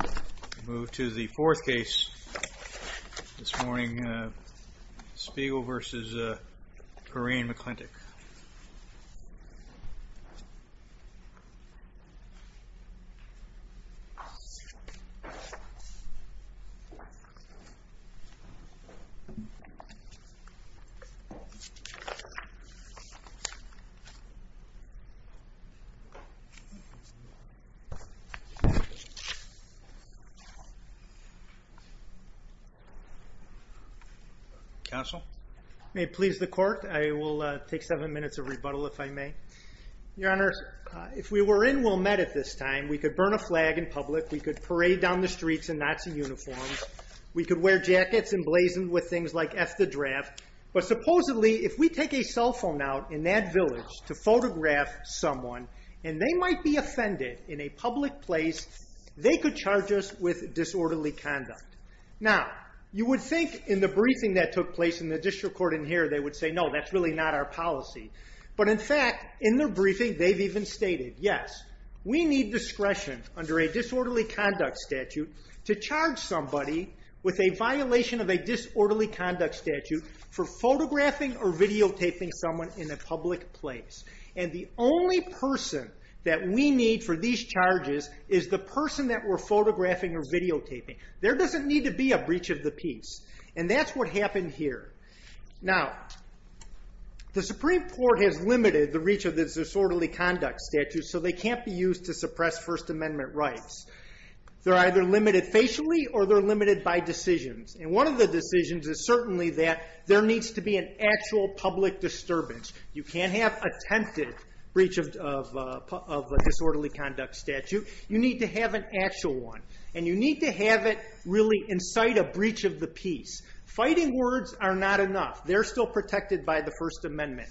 We move to the fourth case this morning, Spiegel v. Corrine McClintic. Your Honor, if we were in Wilmette at this time, we could burn a flag in public, we could parade down the streets in Nazi uniforms, we could wear jackets emblazoned with things like F the Draft, but supposedly if we take a cell phone out in that village to photograph someone, and they might be offended in a public place, they could charge us with disorderly conduct. Now, you would think in the briefing that took place in the district court in here they would say, no, that's really not our policy. But in fact, in their briefing they've even stated, yes, we need discretion under a disorderly conduct statute to charge somebody with a violation of a disorderly conduct statute for photographing or videotaping someone in a public place. And the only person that we need for these charges is the person that we're photographing or videotaping. There doesn't need to be a breach of the peace. And that's what happened here. Now, the Supreme Court has limited the reach of this disorderly conduct statute, so they can't be used to suppress First Amendment rights. They're either limited facially or they're limited by decisions. And one of the decisions is certainly that there needs to be an actual public disturbance. You can't have attempted breach of a disorderly conduct statute. You need to have an actual one. And you need to have it really incite a breach of the peace. Fighting words are not enough. They're still protected by the First Amendment.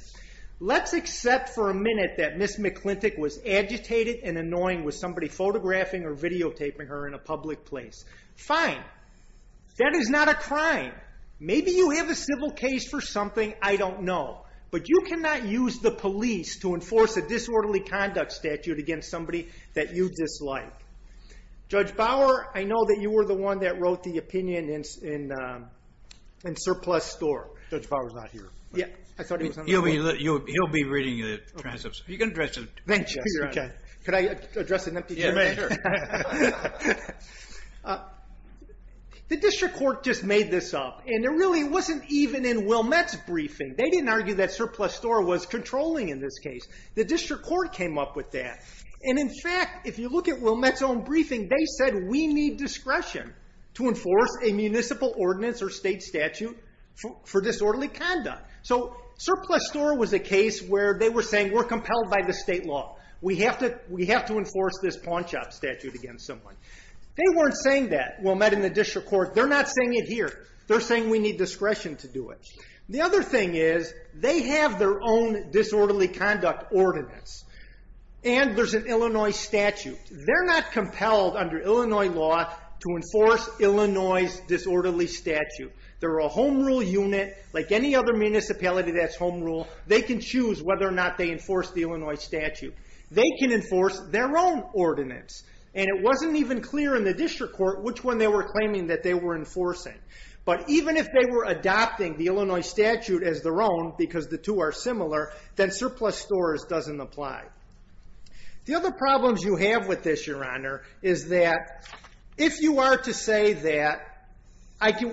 Let's accept for a minute that Ms. McClintick was agitated and annoying with somebody photographing or videotaping her in a public place. Fine. That is not a reasonable case for something I don't know. But you cannot use the police to enforce a disorderly conduct statute against somebody that you dislike. Judge Bauer, I know that you were the one that wrote the opinion in Surplus Store. Judge Bauer's not here. Yeah. I thought he was on the phone. He'll be reading the transcripts. You can address him. Thank you, Your Honor. Could I address an empty chair, then? Yeah, sure. The District Court just made this up. And it really wasn't even in Wilmette's briefing. They didn't argue that Surplus Store was controlling in this case. The District Court came up with that. And in fact, if you look at Wilmette's own briefing, they said we need discretion to enforce a municipal ordinance or state statute for disorderly conduct. So Surplus Store was a case where they were saying, we're compelled by the state law. We have to enforce this pawn shop statute against someone. They weren't saying that, Wilmette and the District Court. They're not saying it here. They're saying we need discretion to do it. The other thing is, they have their own disorderly conduct ordinance. And there's an Illinois statute. They're not compelled under Illinois law to enforce Illinois's disorderly statute. They're a home rule unit. Like any other municipality that's home rule, they can choose whether or not they enforce the Illinois statute. They can enforce their own ordinance. And it wasn't even clear in the District Court which one they were claiming that they were enforcing. But even if they were adopting the Illinois statute as their own, because the two are similar, then Surplus Store doesn't apply. The other problems you have with this, Your Honor, is that if you are to say that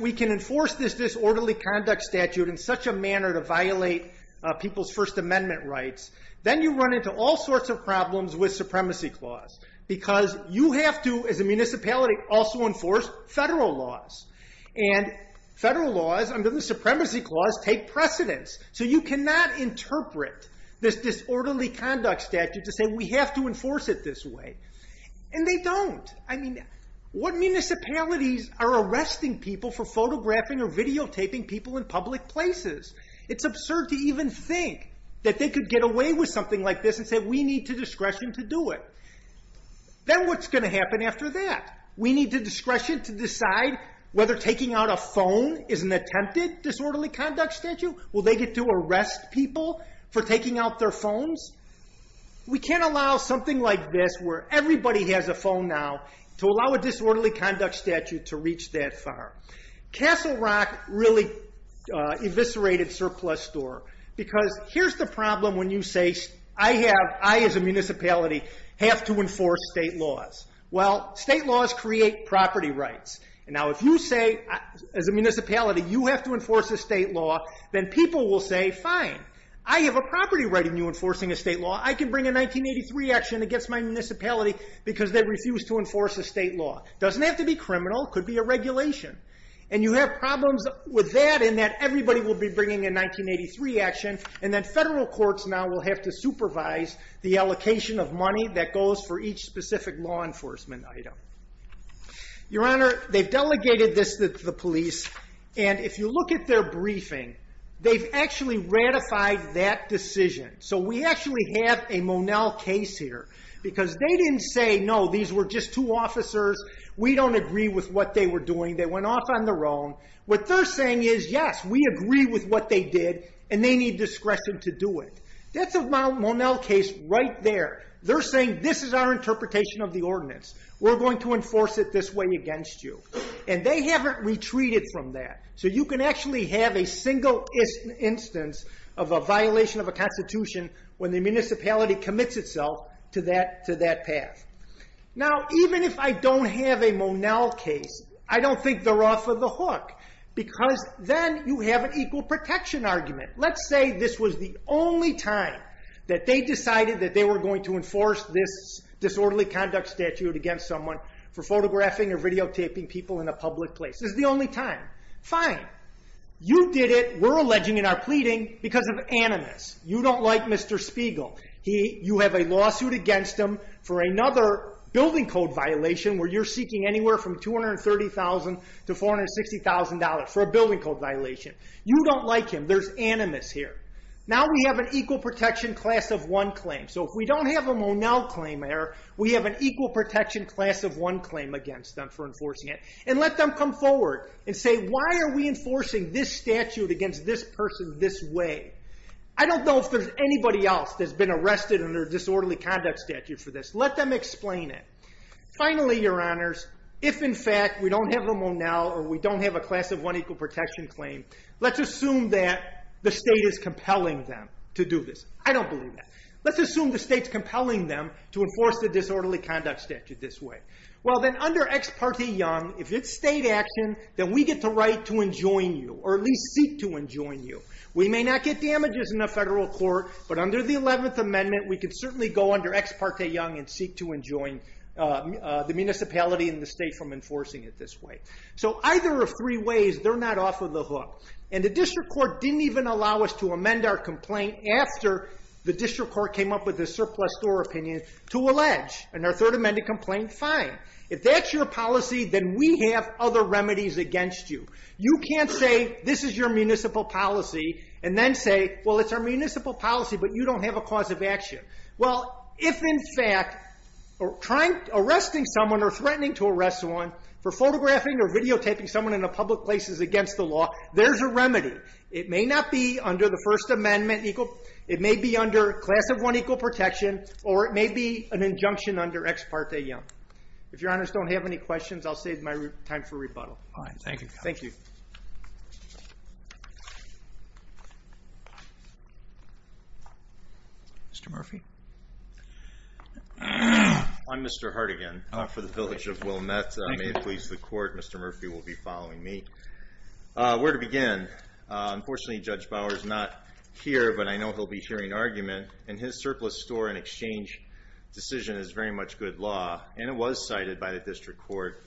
we can enforce this disorderly conduct statute in such a manner to violate people's First Amendment rights, then you run into all sorts of problems with Supremacy Clause. Because you have to, as a municipality, also enforce federal laws. And federal laws under the Supremacy Clause take precedence. So you cannot interpret this disorderly conduct statute to say we have to enforce it this way. And they don't. What municipalities are arresting people for photographing or videotaping people in public places? It's absurd to even think that they could get away with something like this and say, we need to discretion to do it. Then what's going to happen after that? We need the discretion to decide whether taking out a phone is an attempted disorderly conduct statute? Will they get to arrest people for taking out their phones? We can't allow something like this, where everybody has a phone now, to allow a disorderly eviscerated surplus store. Because here's the problem when you say, I, as a municipality, have to enforce state laws. Well, state laws create property rights. Now if you say, as a municipality, you have to enforce a state law, then people will say, fine. I have a property right in you enforcing a state law. I can bring a 1983 action against my municipality because they refused to enforce a state law. Doesn't have to be criminal. Could be a regulation. And you have problems with that in that everybody will be bringing a 1983 action. And then federal courts now will have to supervise the allocation of money that goes for each specific law enforcement item. Your Honor, they've delegated this to the police. And if you look at their briefing, they've actually ratified that decision. So we actually have a Monell case here. Because they didn't say, no, these were just two officers. We don't agree with what they were doing. They went off on their own. What they're saying is, yes, we agree with what they did. And they need discretion to do it. That's a Monell case right there. They're saying, this is our interpretation of the ordinance. We're going to enforce it this way against you. And they haven't retreated from that. So you can actually have a single instance of a violation of a constitution when the municipality commits itself to that path. Now even if I don't have a Monell case, I don't think they're off of the hook. Because then you have an equal protection argument. Let's say this was the only time that they decided that they were going to enforce this disorderly conduct statute against someone for photographing or videotaping people in a public place. This is the only time. Fine. You did it, we're alleging and are pleading, because of animus. You don't like Mr. Spiegel. You have a lawsuit against him for another building code violation where you're seeking anywhere from $230,000 to $460,000 for a building code violation. You don't like him. There's animus here. Now we have an equal protection class of one claim. So if we don't have a Monell claim there, we have an equal protection class of one claim against them for enforcing it. And let them come forward and say, why are we enforcing this statute against this person this way? I don't know if there's anybody else that's been arrested under a disorderly conduct statute for this. Let them explain it. Finally, your honors, if in fact we don't have a Monell or we don't have a class of one equal protection claim, let's assume that the state is compelling them to do this. I don't believe that. Let's assume the state's compelling them to enforce the disorderly conduct statute. If it's state action, then we get the right to enjoin you, or at least seek to enjoin you. We may not get damages in the federal court, but under the 11th Amendment, we could certainly go under ex parte young and seek to enjoin the municipality and the state from enforcing it this way. So either of three ways, they're not off of the hook. And the district court didn't even allow us to amend our complaint after the district court came up with a surplus store opinion to allege in our third amended complaint. Fine. If that's your policy, then we have other remedies against you. You can't say this is your municipal policy and then say, well, it's our municipal policy, but you don't have a cause of action. Well, if in fact arresting someone or threatening to arrest one for photographing or videotaping someone in a public place is against the law, there's a remedy. It may not be under the First Amendment. It may be under class of one equal protection, or it may be an injunction under ex parte young. If your honors don't have any questions, I'll save my time for rebuttal. All right. Thank you. Thank you. Mr. Murphy? I'm Mr. Hartigan. I'm from the village of Wilmette. May it please the court, Mr. Murphy will be following me. Where to begin? Unfortunately, Judge Bower's not here, but I know he'll be hearing argument. And his surplus store and exchange decision is very much good law. And it was cited by the district court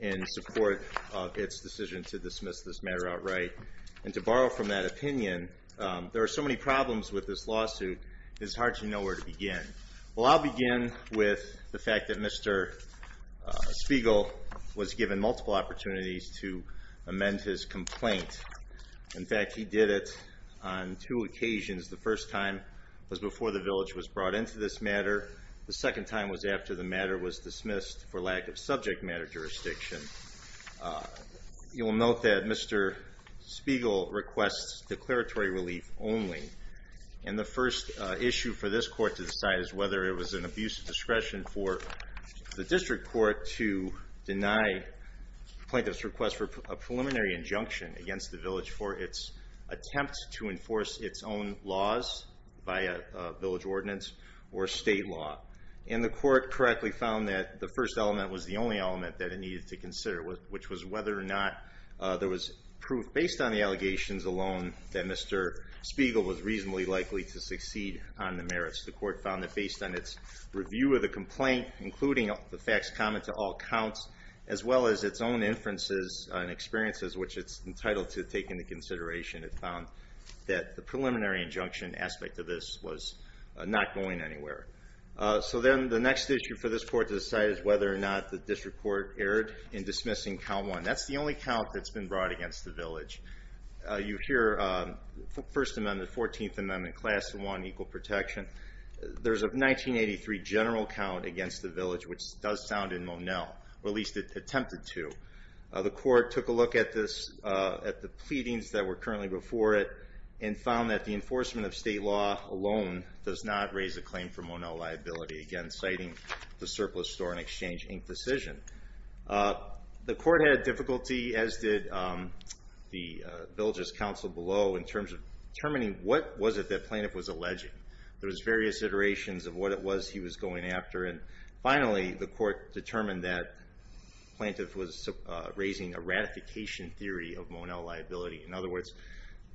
in support of its decision to dismiss this matter outright. And to borrow from that opinion, there are so many problems with this lawsuit, it's hard to know where to begin. Well, I'll begin with the fact that Mr. Spiegel was given multiple opportunities to amend his complaint. In fact, he did it on two occasions. The first time was before the village was brought into this matter. The second time was after the village was dismissed for lack of subject matter jurisdiction. You will note that Mr. Spiegel requests declaratory relief only. And the first issue for this court to decide is whether it was an abuse of discretion for the district court to deny plaintiff's request for a preliminary injunction against the village for its attempt to enforce its own laws by village ordinance or state law. And the court correctly found that the first element was the only element that it needed to consider, which was whether or not there was proof based on the allegations alone that Mr. Spiegel was reasonably likely to succeed on the merits. The court found that based on its review of the complaint, including the facts common to all counts, as well as its own inferences and experiences, which it's entitled to take into consideration, it found that the preliminary injunction aspect of this was not going anywhere. So then the next issue for this court to decide is whether or not the district court erred in dismissing count one. That's the only count that's been brought against the village. You hear First Amendment, 14th Amendment, class one, equal protection. There's a 1983 general count against the village, which does sound in Monell, or at least it attempted to. The pleadings that were currently before it, and found that the enforcement of state law alone does not raise a claim for Monell liability. Again, citing the surplus store and exchange ink decision. The court had difficulty, as did the village's counsel below, in terms of determining what was it that Plaintiff was alleging. There was various iterations of what it was he was going after. And finally, the court determined that Plaintiff was raising a ratification theory of Monell liability. In other words,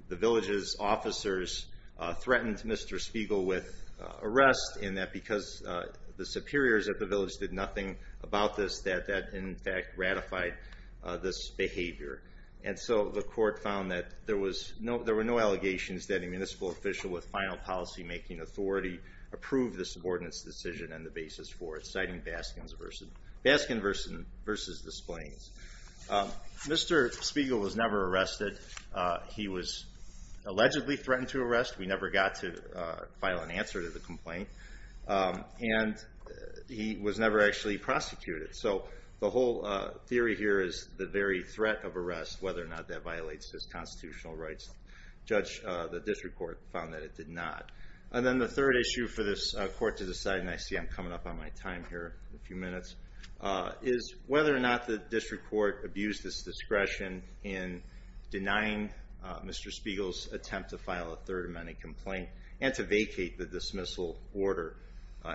the village's officers threatened Mr. Spiegel with arrest, and that because the superiors at the village did nothing about this, that that in fact ratified this behavior. And so the court found that there were no allegations that a municipal official with final policy making authority approved the subordinates' decision on the basis for it, citing Baskin versus the Spleens. Mr. Spiegel was never arrested. He was allegedly threatened to arrest. We never got to file an answer to the complaint. And he was never actually prosecuted. So the whole theory here is the very threat of arrest, whether or not that violates his constitutional rights, the district court found that it did not. And then the third issue for this court to decide, and I see I'm coming up on my time here in a few minutes, is whether or not the district court abused its discretion in denying Mr. Spiegel's attempt to file a third amendment complaint and to vacate the dismissal order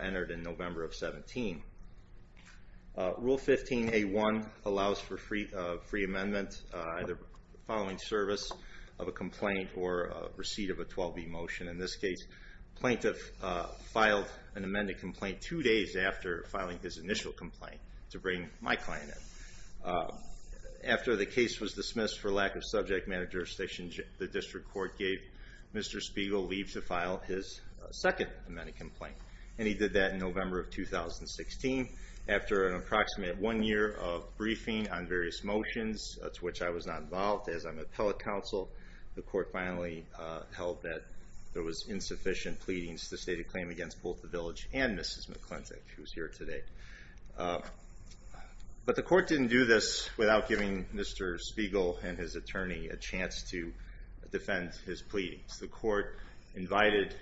entered in November of 17. Rule 15a1 allows for free amendment, either following service of a complaint or receipt of a 12b motion. In this case, plaintiff filed an amended complaint two days after filing his initial complaint to bring my client in. After the case was dismissed for lack of subject matter jurisdiction, the district court gave Mr. Spiegel leave to file his second amended complaint. And he did that in November of 2016 after an approximate one year of briefing on various motions to which I was not involved as an appellate counsel. The court finally held that there was insufficient pleadings to state a claim against both the village and Mrs. McClintock, who is here today. But the court didn't do this without giving Mr. Spiegel and his attorney a chance to defend his pleadings. The court invited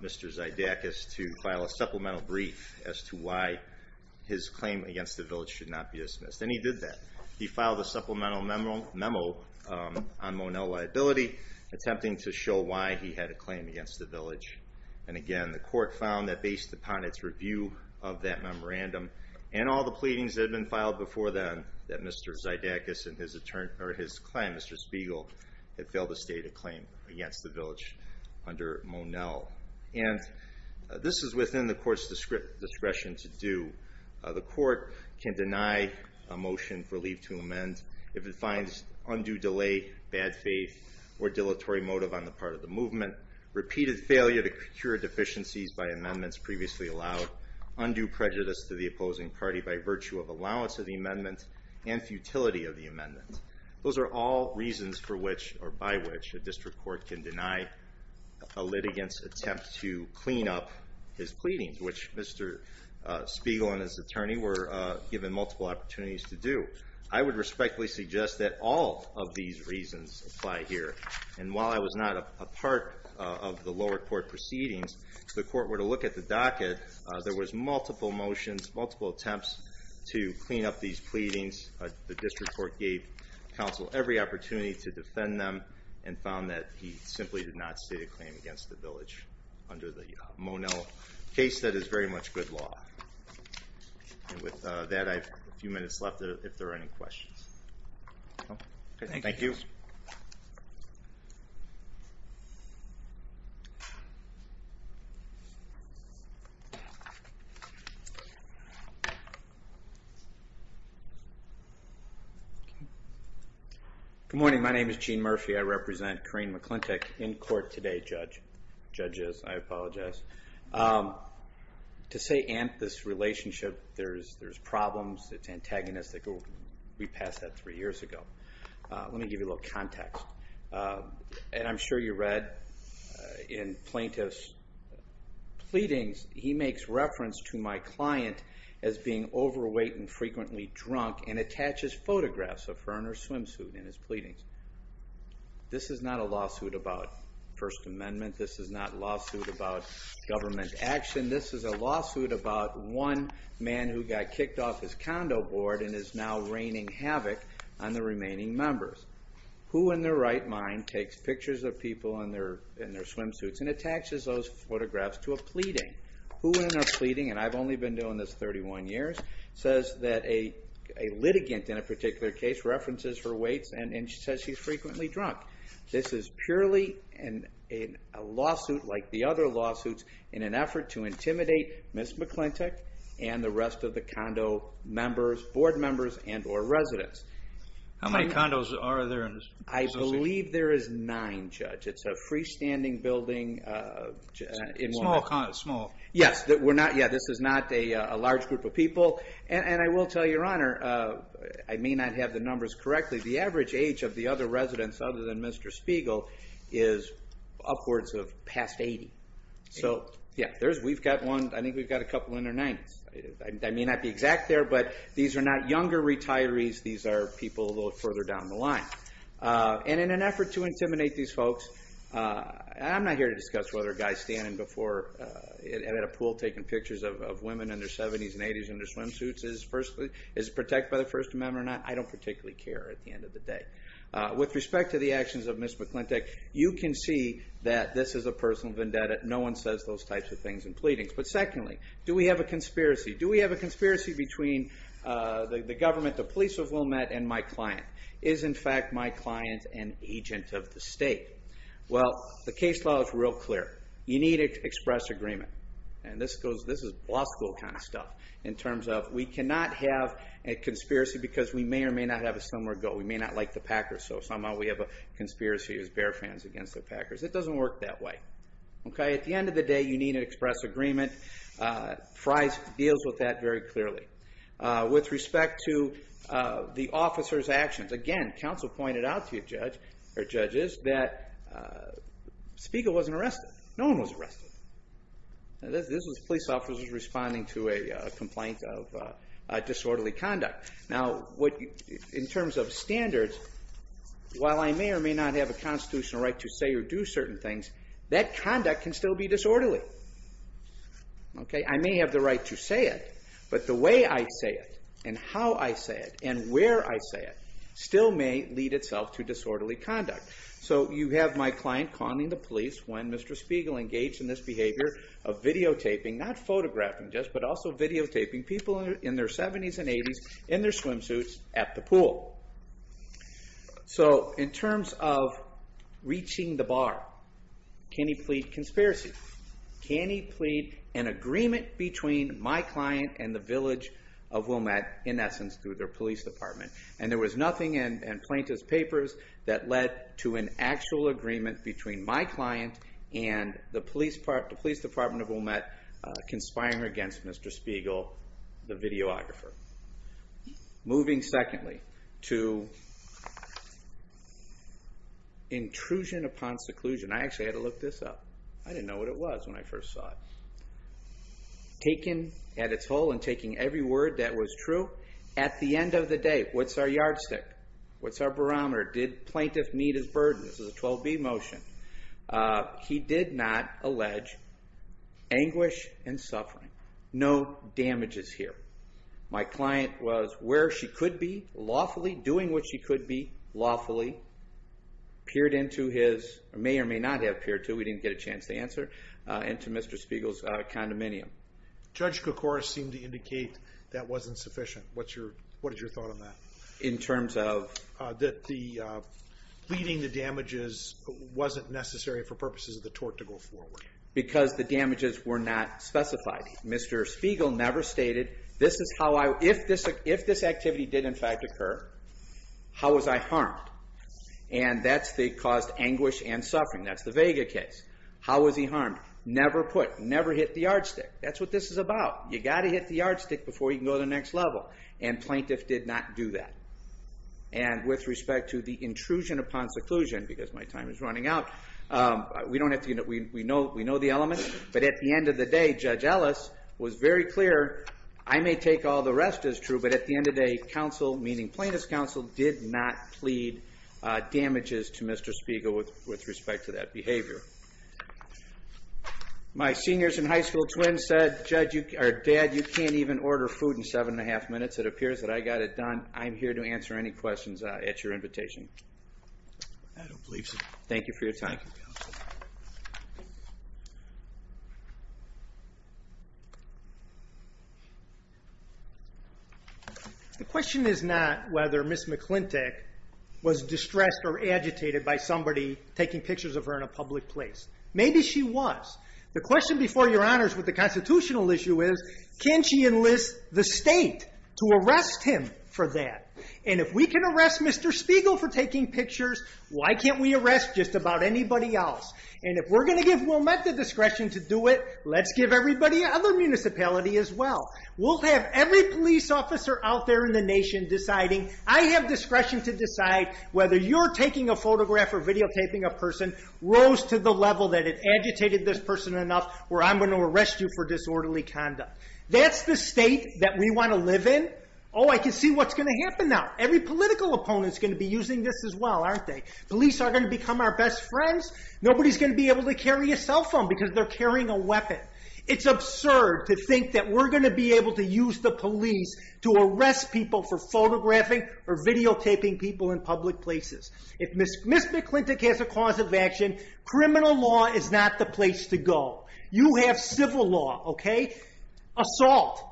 Mr. Zydackis to file a supplemental brief as to why his claim against the village should not be dismissed. And he did that. He filed a supplemental memo on Monell liability, attempting to show why he had a claim against the village. And again, the court found that based upon its review of that memorandum and all the pleadings that had been filed before then, that Mr. Zydackis and his client, Mr. Spiegel, had failed to state a claim against the village under Monell. And this is within the court's discretion to do. The court can deny a motion for leave to amend if it finds undue delay, bad faith, or dilatory motive on the part of the movement, repeated failure to cure deficiencies by amendments previously allowed, undue prejudice to the opposing party by virtue of allowance of the amendment, and futility of the amendment. Those are all reasons for which, or by which, a district court can deny a litigant's attempt to clean up his pleadings, which Mr. Spiegel and his attorney were given multiple opportunities to do. I would respectfully suggest that all of these reasons apply here. And while I was not a part of the lower court proceedings, the court were to look at the docket. There was multiple motions, multiple attempts to clean up these pleadings. The district court gave counsel every opportunity to defend them and found that he simply did not state a claim against the village under the Monell case that is very much good law. And with that, I have a few minutes left if there are any questions. Okay, thank you. Good morning, my name is Gene Murphy. I represent Corrine McClintock in court today, judges. I apologize. To say and this relationship, there's problems, it's antagonistic. We passed that three years ago. Let me give you a little context. And I'm sure you read in plaintiff's pleadings, he makes reference to my client as being overweight and frequently drunk and attaches photographs of her in her swimsuit in his pleadings. This is not a lawsuit about First Amendment. This is not a lawsuit about government action. This is a lawsuit about one man who got kicked off his condo board and is now raining havoc on the remaining members. Who in their right mind takes pictures of people in their swimsuits and attaches those photographs to a pleading? Who in their pleading, and I've only been doing this 31 years, says that a litigant in a particular case references her weights and says she's frequently drunk. This is purely a lawsuit like the other lawsuits in an effort to intimidate Ms. McClintock and the rest of the condo members, board members, and or residents. How many condos are there in this association? I believe there is nine, Judge. It's a freestanding building in Walnut Creek. Small condo, small. Yes, this is not a large group of people. And I will tell your honor, I may not have the numbers correctly, the average age of the other residents other than Mr. Spiegel is upwards of past 80. So yeah, we've got a couple in their 90s. I may not be exact there, but these are not younger retirees. These are people a little further down the line. And in an effort to intimidate these folks, and I'm not here to discuss whether a guy standing before at a pool taking pictures of women in their 70s and 80s in their swimsuits is protected by the First Amendment or not, I don't particularly care at the end of the day. With respect to the actions of Ms. McClintock, you can see that this is a personal vendetta. No one says those types of things in pleadings. But secondly, do we have a conspiracy? Do we have a conspiracy between the government, the police of Wilmette, and my client? Is in fact my client an agent of the state? Well, the case law is real clear. You need to express agreement. And this is law school kind of stuff in terms of we cannot have a conspiracy because we may or may not have a similar goal. We may not like the Packers, so somehow we have a conspiracy as bear fans against the At the end of the day, you need to express agreement. Fries deals with that very clearly. With respect to the officer's actions, again, counsel pointed out to judges that Spiegel wasn't arrested. No one was arrested. This was police officers responding to a complaint of disorderly conduct. Now, in terms of standards, while I may or may not have a constitutional right to say or do certain things, that conduct can still be disorderly. I may have the right to say it, but the way I say it, and how I say it, and where I say it, still may lead itself to disorderly conduct. So you have my client calling the police when Mr. Spiegel engaged in this behavior of videotaping, not photographing just, but also videotaping people in their 70s and 80s in their swimsuits at the pool. So, in terms of reaching the bar, can he plead conspiracy? Can he plead an agreement between my client and the village of Wilmette, in essence, through their police department? And there was nothing in Plaintiff's papers that led to an actual agreement between my client and the police department of Wilmette conspiring against Mr. Spiegel, the videographer. Moving, secondly, to intrusion upon seclusion. I actually had to look this up. I didn't know what it was when I first saw it. Taken at its whole and taking every word that was true, at the end of the day, what's our yardstick? What's our barometer? Did Plaintiff meet his burden? This is a 12b motion. He did not allege anguish and suffering. No damages here. My client was where she could be lawfully, doing what she could be lawfully, peered into his, may or may not have peered to, we didn't get a chance to answer, into Mr. Spiegel's condominium. Judge Kokoris seemed to indicate that wasn't sufficient. What is your thought on that? In terms of? That pleading the damages wasn't necessary for purposes of the tort to go forward. Because the damages were not specified. Mr. Spiegel never stated, this is how I, if this activity did in fact occur, how was I harmed? And that's the caused anguish and suffering. That's the Vega case. How was he harmed? Never put, never hit the yardstick. That's what this is about. You got to hit the yardstick before you can go to the next level. And Plaintiff did not do that. And with respect to the intrusion upon seclusion, because my time is running out, we don't have to, we know the elements. But at the end of the day, Judge Ellis was very clear, I may take all the rest as true, but at the end of the day, counsel, meaning Plaintiff's counsel, did not plead damages to Mr. Spiegel with respect to that behavior. My seniors and high school twins said, Judge, or Dad, you can't even order food in seven and a half minutes. It appears that I got it done. I'm here to answer any questions at your invitation. I don't believe so. Thank you for your time. The question is not whether Ms. McClintock was distressed or agitated by somebody taking pictures of her in a public place. Maybe she was. The question before your honors with the constitutional issue is, can she enlist the state to arrest him for that? And if we can arrest Mr. Spiegel for taking pictures, why can't we arrest just about anybody else? And if we're going to give Wilmette the discretion to do it, let's give everybody in the municipality as well. We'll have every police officer out there in the nation deciding, I have discretion to decide whether you're taking a photograph or videotaping a person, rose to the level that it agitated this person enough, or I'm going to arrest you for disorderly conduct. That's the state that we want to live in? Oh, I can see what's going to happen now. Every political opponent is going to be using this as well, aren't they? Police are going to become our best friends. Nobody's going to be able to carry a cell phone because they're carrying a weapon. It's absurd to think that we're going to be able to use the police to arrest people for photographing or videotaping people in public places. If Ms. McClintock has a cause of action, criminal law is not the place to go. You have civil law. Assault,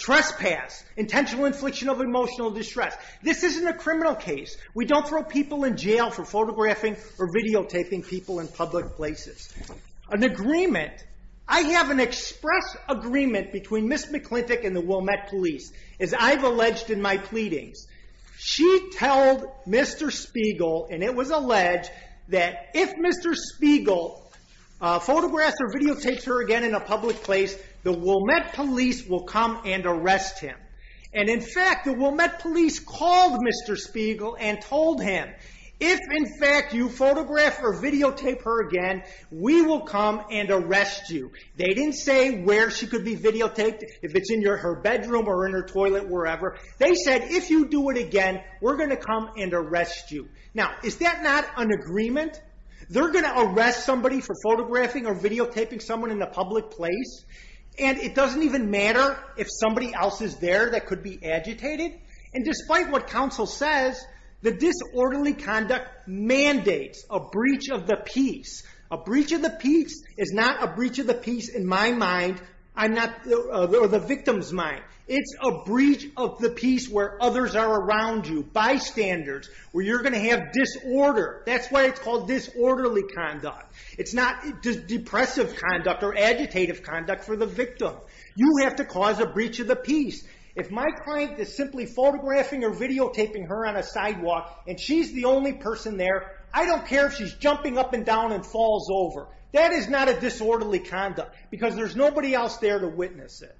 trespass, intentional infliction of emotional distress, this isn't a criminal case. We don't throw people in jail for photographing or videotaping people in public places. I have an express agreement between Ms. McClintock and the Wilmette police, as I've alleged in my pleadings. She told Mr. Spiegel, and it was alleged, that if Mr. Spiegel photographed or videotaped her again in a public place, the Wilmette police will come and arrest him. In fact, the Wilmette police called Mr. Spiegel and told him, if in fact you photograph or videotape her again, we will come and arrest you. They didn't say where she could be videotaped, if it's in her bedroom or in her toilet, wherever. They said, if you do it again, we're going to come and arrest you. Is that not an agreement? They're going to arrest somebody for photographing or videotaping someone in a public place. It doesn't even matter if somebody else is there that could be agitated. Despite what counsel says, the disorderly conduct mandates a breach of the peace. A breach of the peace is not a breach of the peace, in my mind, or the victim's mind. It's a breach of the peace where others are around you, bystanders, where you're going to have disorder. That's why it's called disorderly conduct. It's not depressive conduct or agitative conduct for the victim. You have to cause a breach of the peace. If my client is simply photographing or videotaping her on a sidewalk and she's the only person there, I don't care if she's jumping up and down and falls over. That is not a disorderly conduct because there's nobody else there to witness it.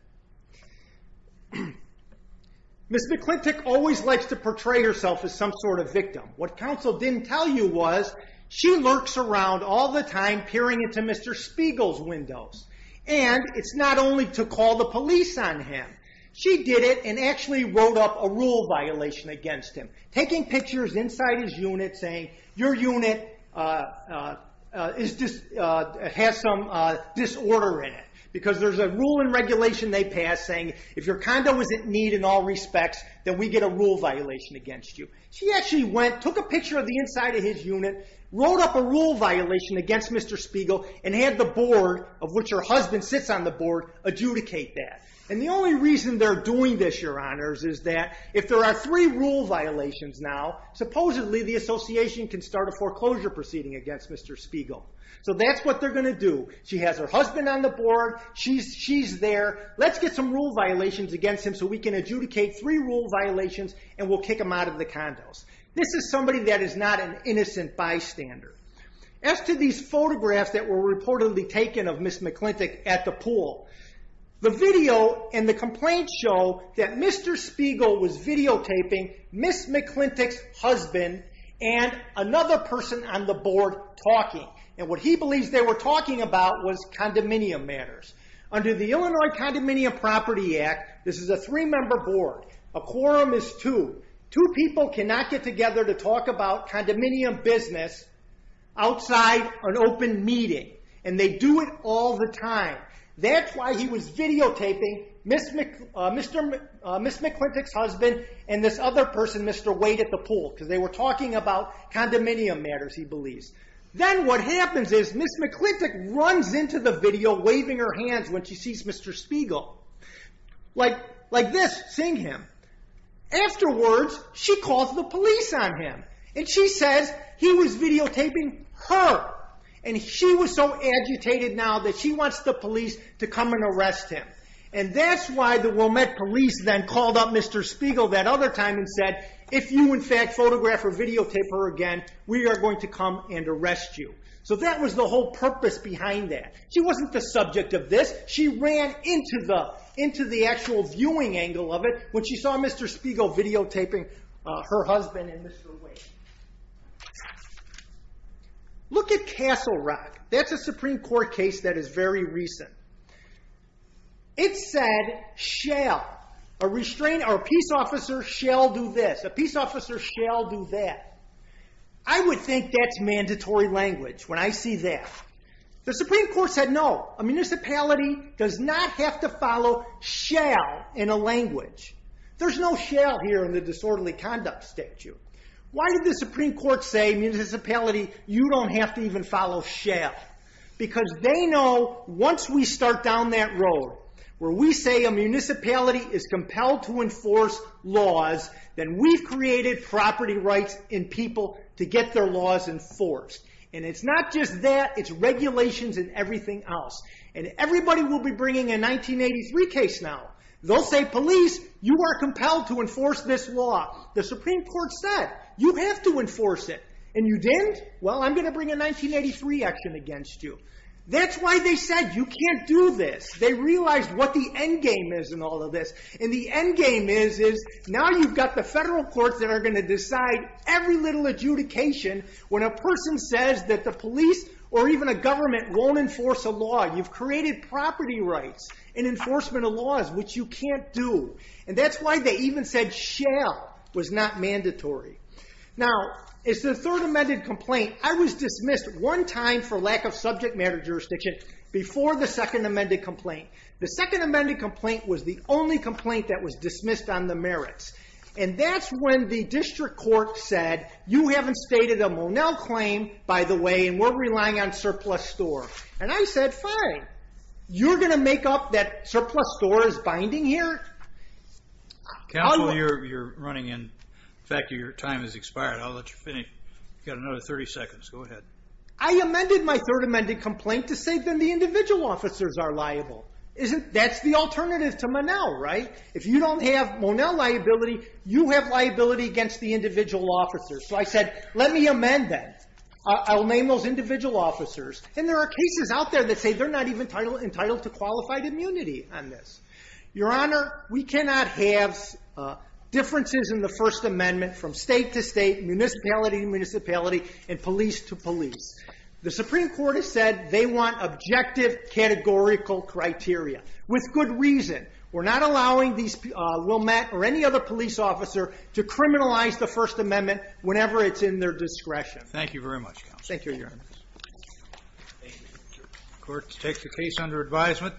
Ms. McClintick always likes to portray herself as some sort of victim. What counsel didn't tell you was she lurks around all the time, peering into Mr. Spiegel's windows. It's not only to call the police on him. She did it and actually wrote up a rule violation against him, taking pictures inside his unit saying, your unit has some disorder in it. There's a rule and regulation they pass saying, if your condo is in need in all respects, then we get a rule violation against you. She actually went, took a picture of the inside of his unit, wrote up a rule violation against Mr. Spiegel and had the board, of which her husband sits on the board, adjudicate that. The only reason they're doing this, Your Honors, is that if there are three rule violations now, supposedly the association can start a foreclosure proceeding against Mr. Spiegel. That's what they're going to do. She has her husband on the board. She's there. Let's get some rule violations against him so we can adjudicate three rule violations and we'll kick him out of the condos. This is somebody that is not an innocent bystander. As to these photographs that were reportedly taken of Ms. McClintick at the pool, the video and the complaint show that Mr. Spiegel was videotaping Ms. McClintick's husband and another person on the board talking. What he believes they were talking about was condominium matters. Under the Illinois Condominium Property Act, this is a three-member board. A quorum is two. Two people cannot get together to talk about condominium business outside an open meeting. They do it all the time. That's why he was videotaping Ms. McClintick's husband and this other person, Mr. Wade, at the pool. They were talking about condominium matters, he believes. Then what happens is Ms. McClintick runs into the video waving her hands when she sees Mr. Spiegel, like this, seeing him. Afterwards, she calls the police on him. She says he was videotaping her. She was so agitated now that she wants the police to come and arrest him. That's why the Wilmette police then called up Mr. Spiegel one more time and said, if you in fact photograph or videotape her again, we are going to come and arrest you. That was the whole purpose behind that. She wasn't the subject of this. She ran into the actual viewing angle of it when she saw Mr. Spiegel videotaping her husband and Mr. Wade. Look at Castle Rock. That's a Supreme Court case that is very recent. It said, peace officer shall do this. A peace officer shall do that. I would think that's mandatory language when I see that. The Supreme Court said no. A municipality does not have to follow shall in a language. There's no shall here in the disorderly conduct statute. Why did the Supreme Court say, municipality, you don't have to even follow shall? Because they know once we start down that road where we say a municipality is compelled to enforce laws, then we've created property rights in people to get their laws enforced. It's not just that. It's regulations and everything else. Everybody will be bringing a 1983 case now. They'll say, police, you are compelled to enforce this law. The Supreme Court said, you have to enforce it. You didn't? I'm going to bring a 1983 action against you. That's why they said, you can't do this. They realized what the end game is in all of this. The end game is, now you've got the federal courts that are going to decide every little adjudication when a person says that the police or even a government won't enforce a law. You've created property rights in enforcement of laws which you can't do. That's why they even said shall was not mandatory. It's the third amended complaint. I was dismissed one time for lack of subject matter jurisdiction before the second amended complaint. The second amended complaint was the only complaint that was dismissed on the merits. That's when the district court said, you haven't stated a Monell claim, by the way, and we're relying on surplus store. I said, fine. You're going to make up that surplus store is binding here? Counsel, you're running in. In fact, your time has expired. I'll let you finish. You've got another 30 seconds. Go ahead. I amended my third amended complaint to say then the individual officers are liable. That's the alternative to Monell, right? If you don't have Monell liability, you have liability against the individual officers. So I said, let me amend that. I'll name those individual officers. And there are cases out there that say they're not even entitled to qualified immunity on this. Your Honor, we cannot have differences in the First Amendment from state to state, municipality to municipality, and police to police. The Supreme Court has said they want objective categorical criteria with good reason. We're not allowing these Wilmette or any other police officer to criminalize the First Amendment whenever it's in their discretion. Thank you very much, Counsel. Thank you, Your Honor. Court to take the case under advisement.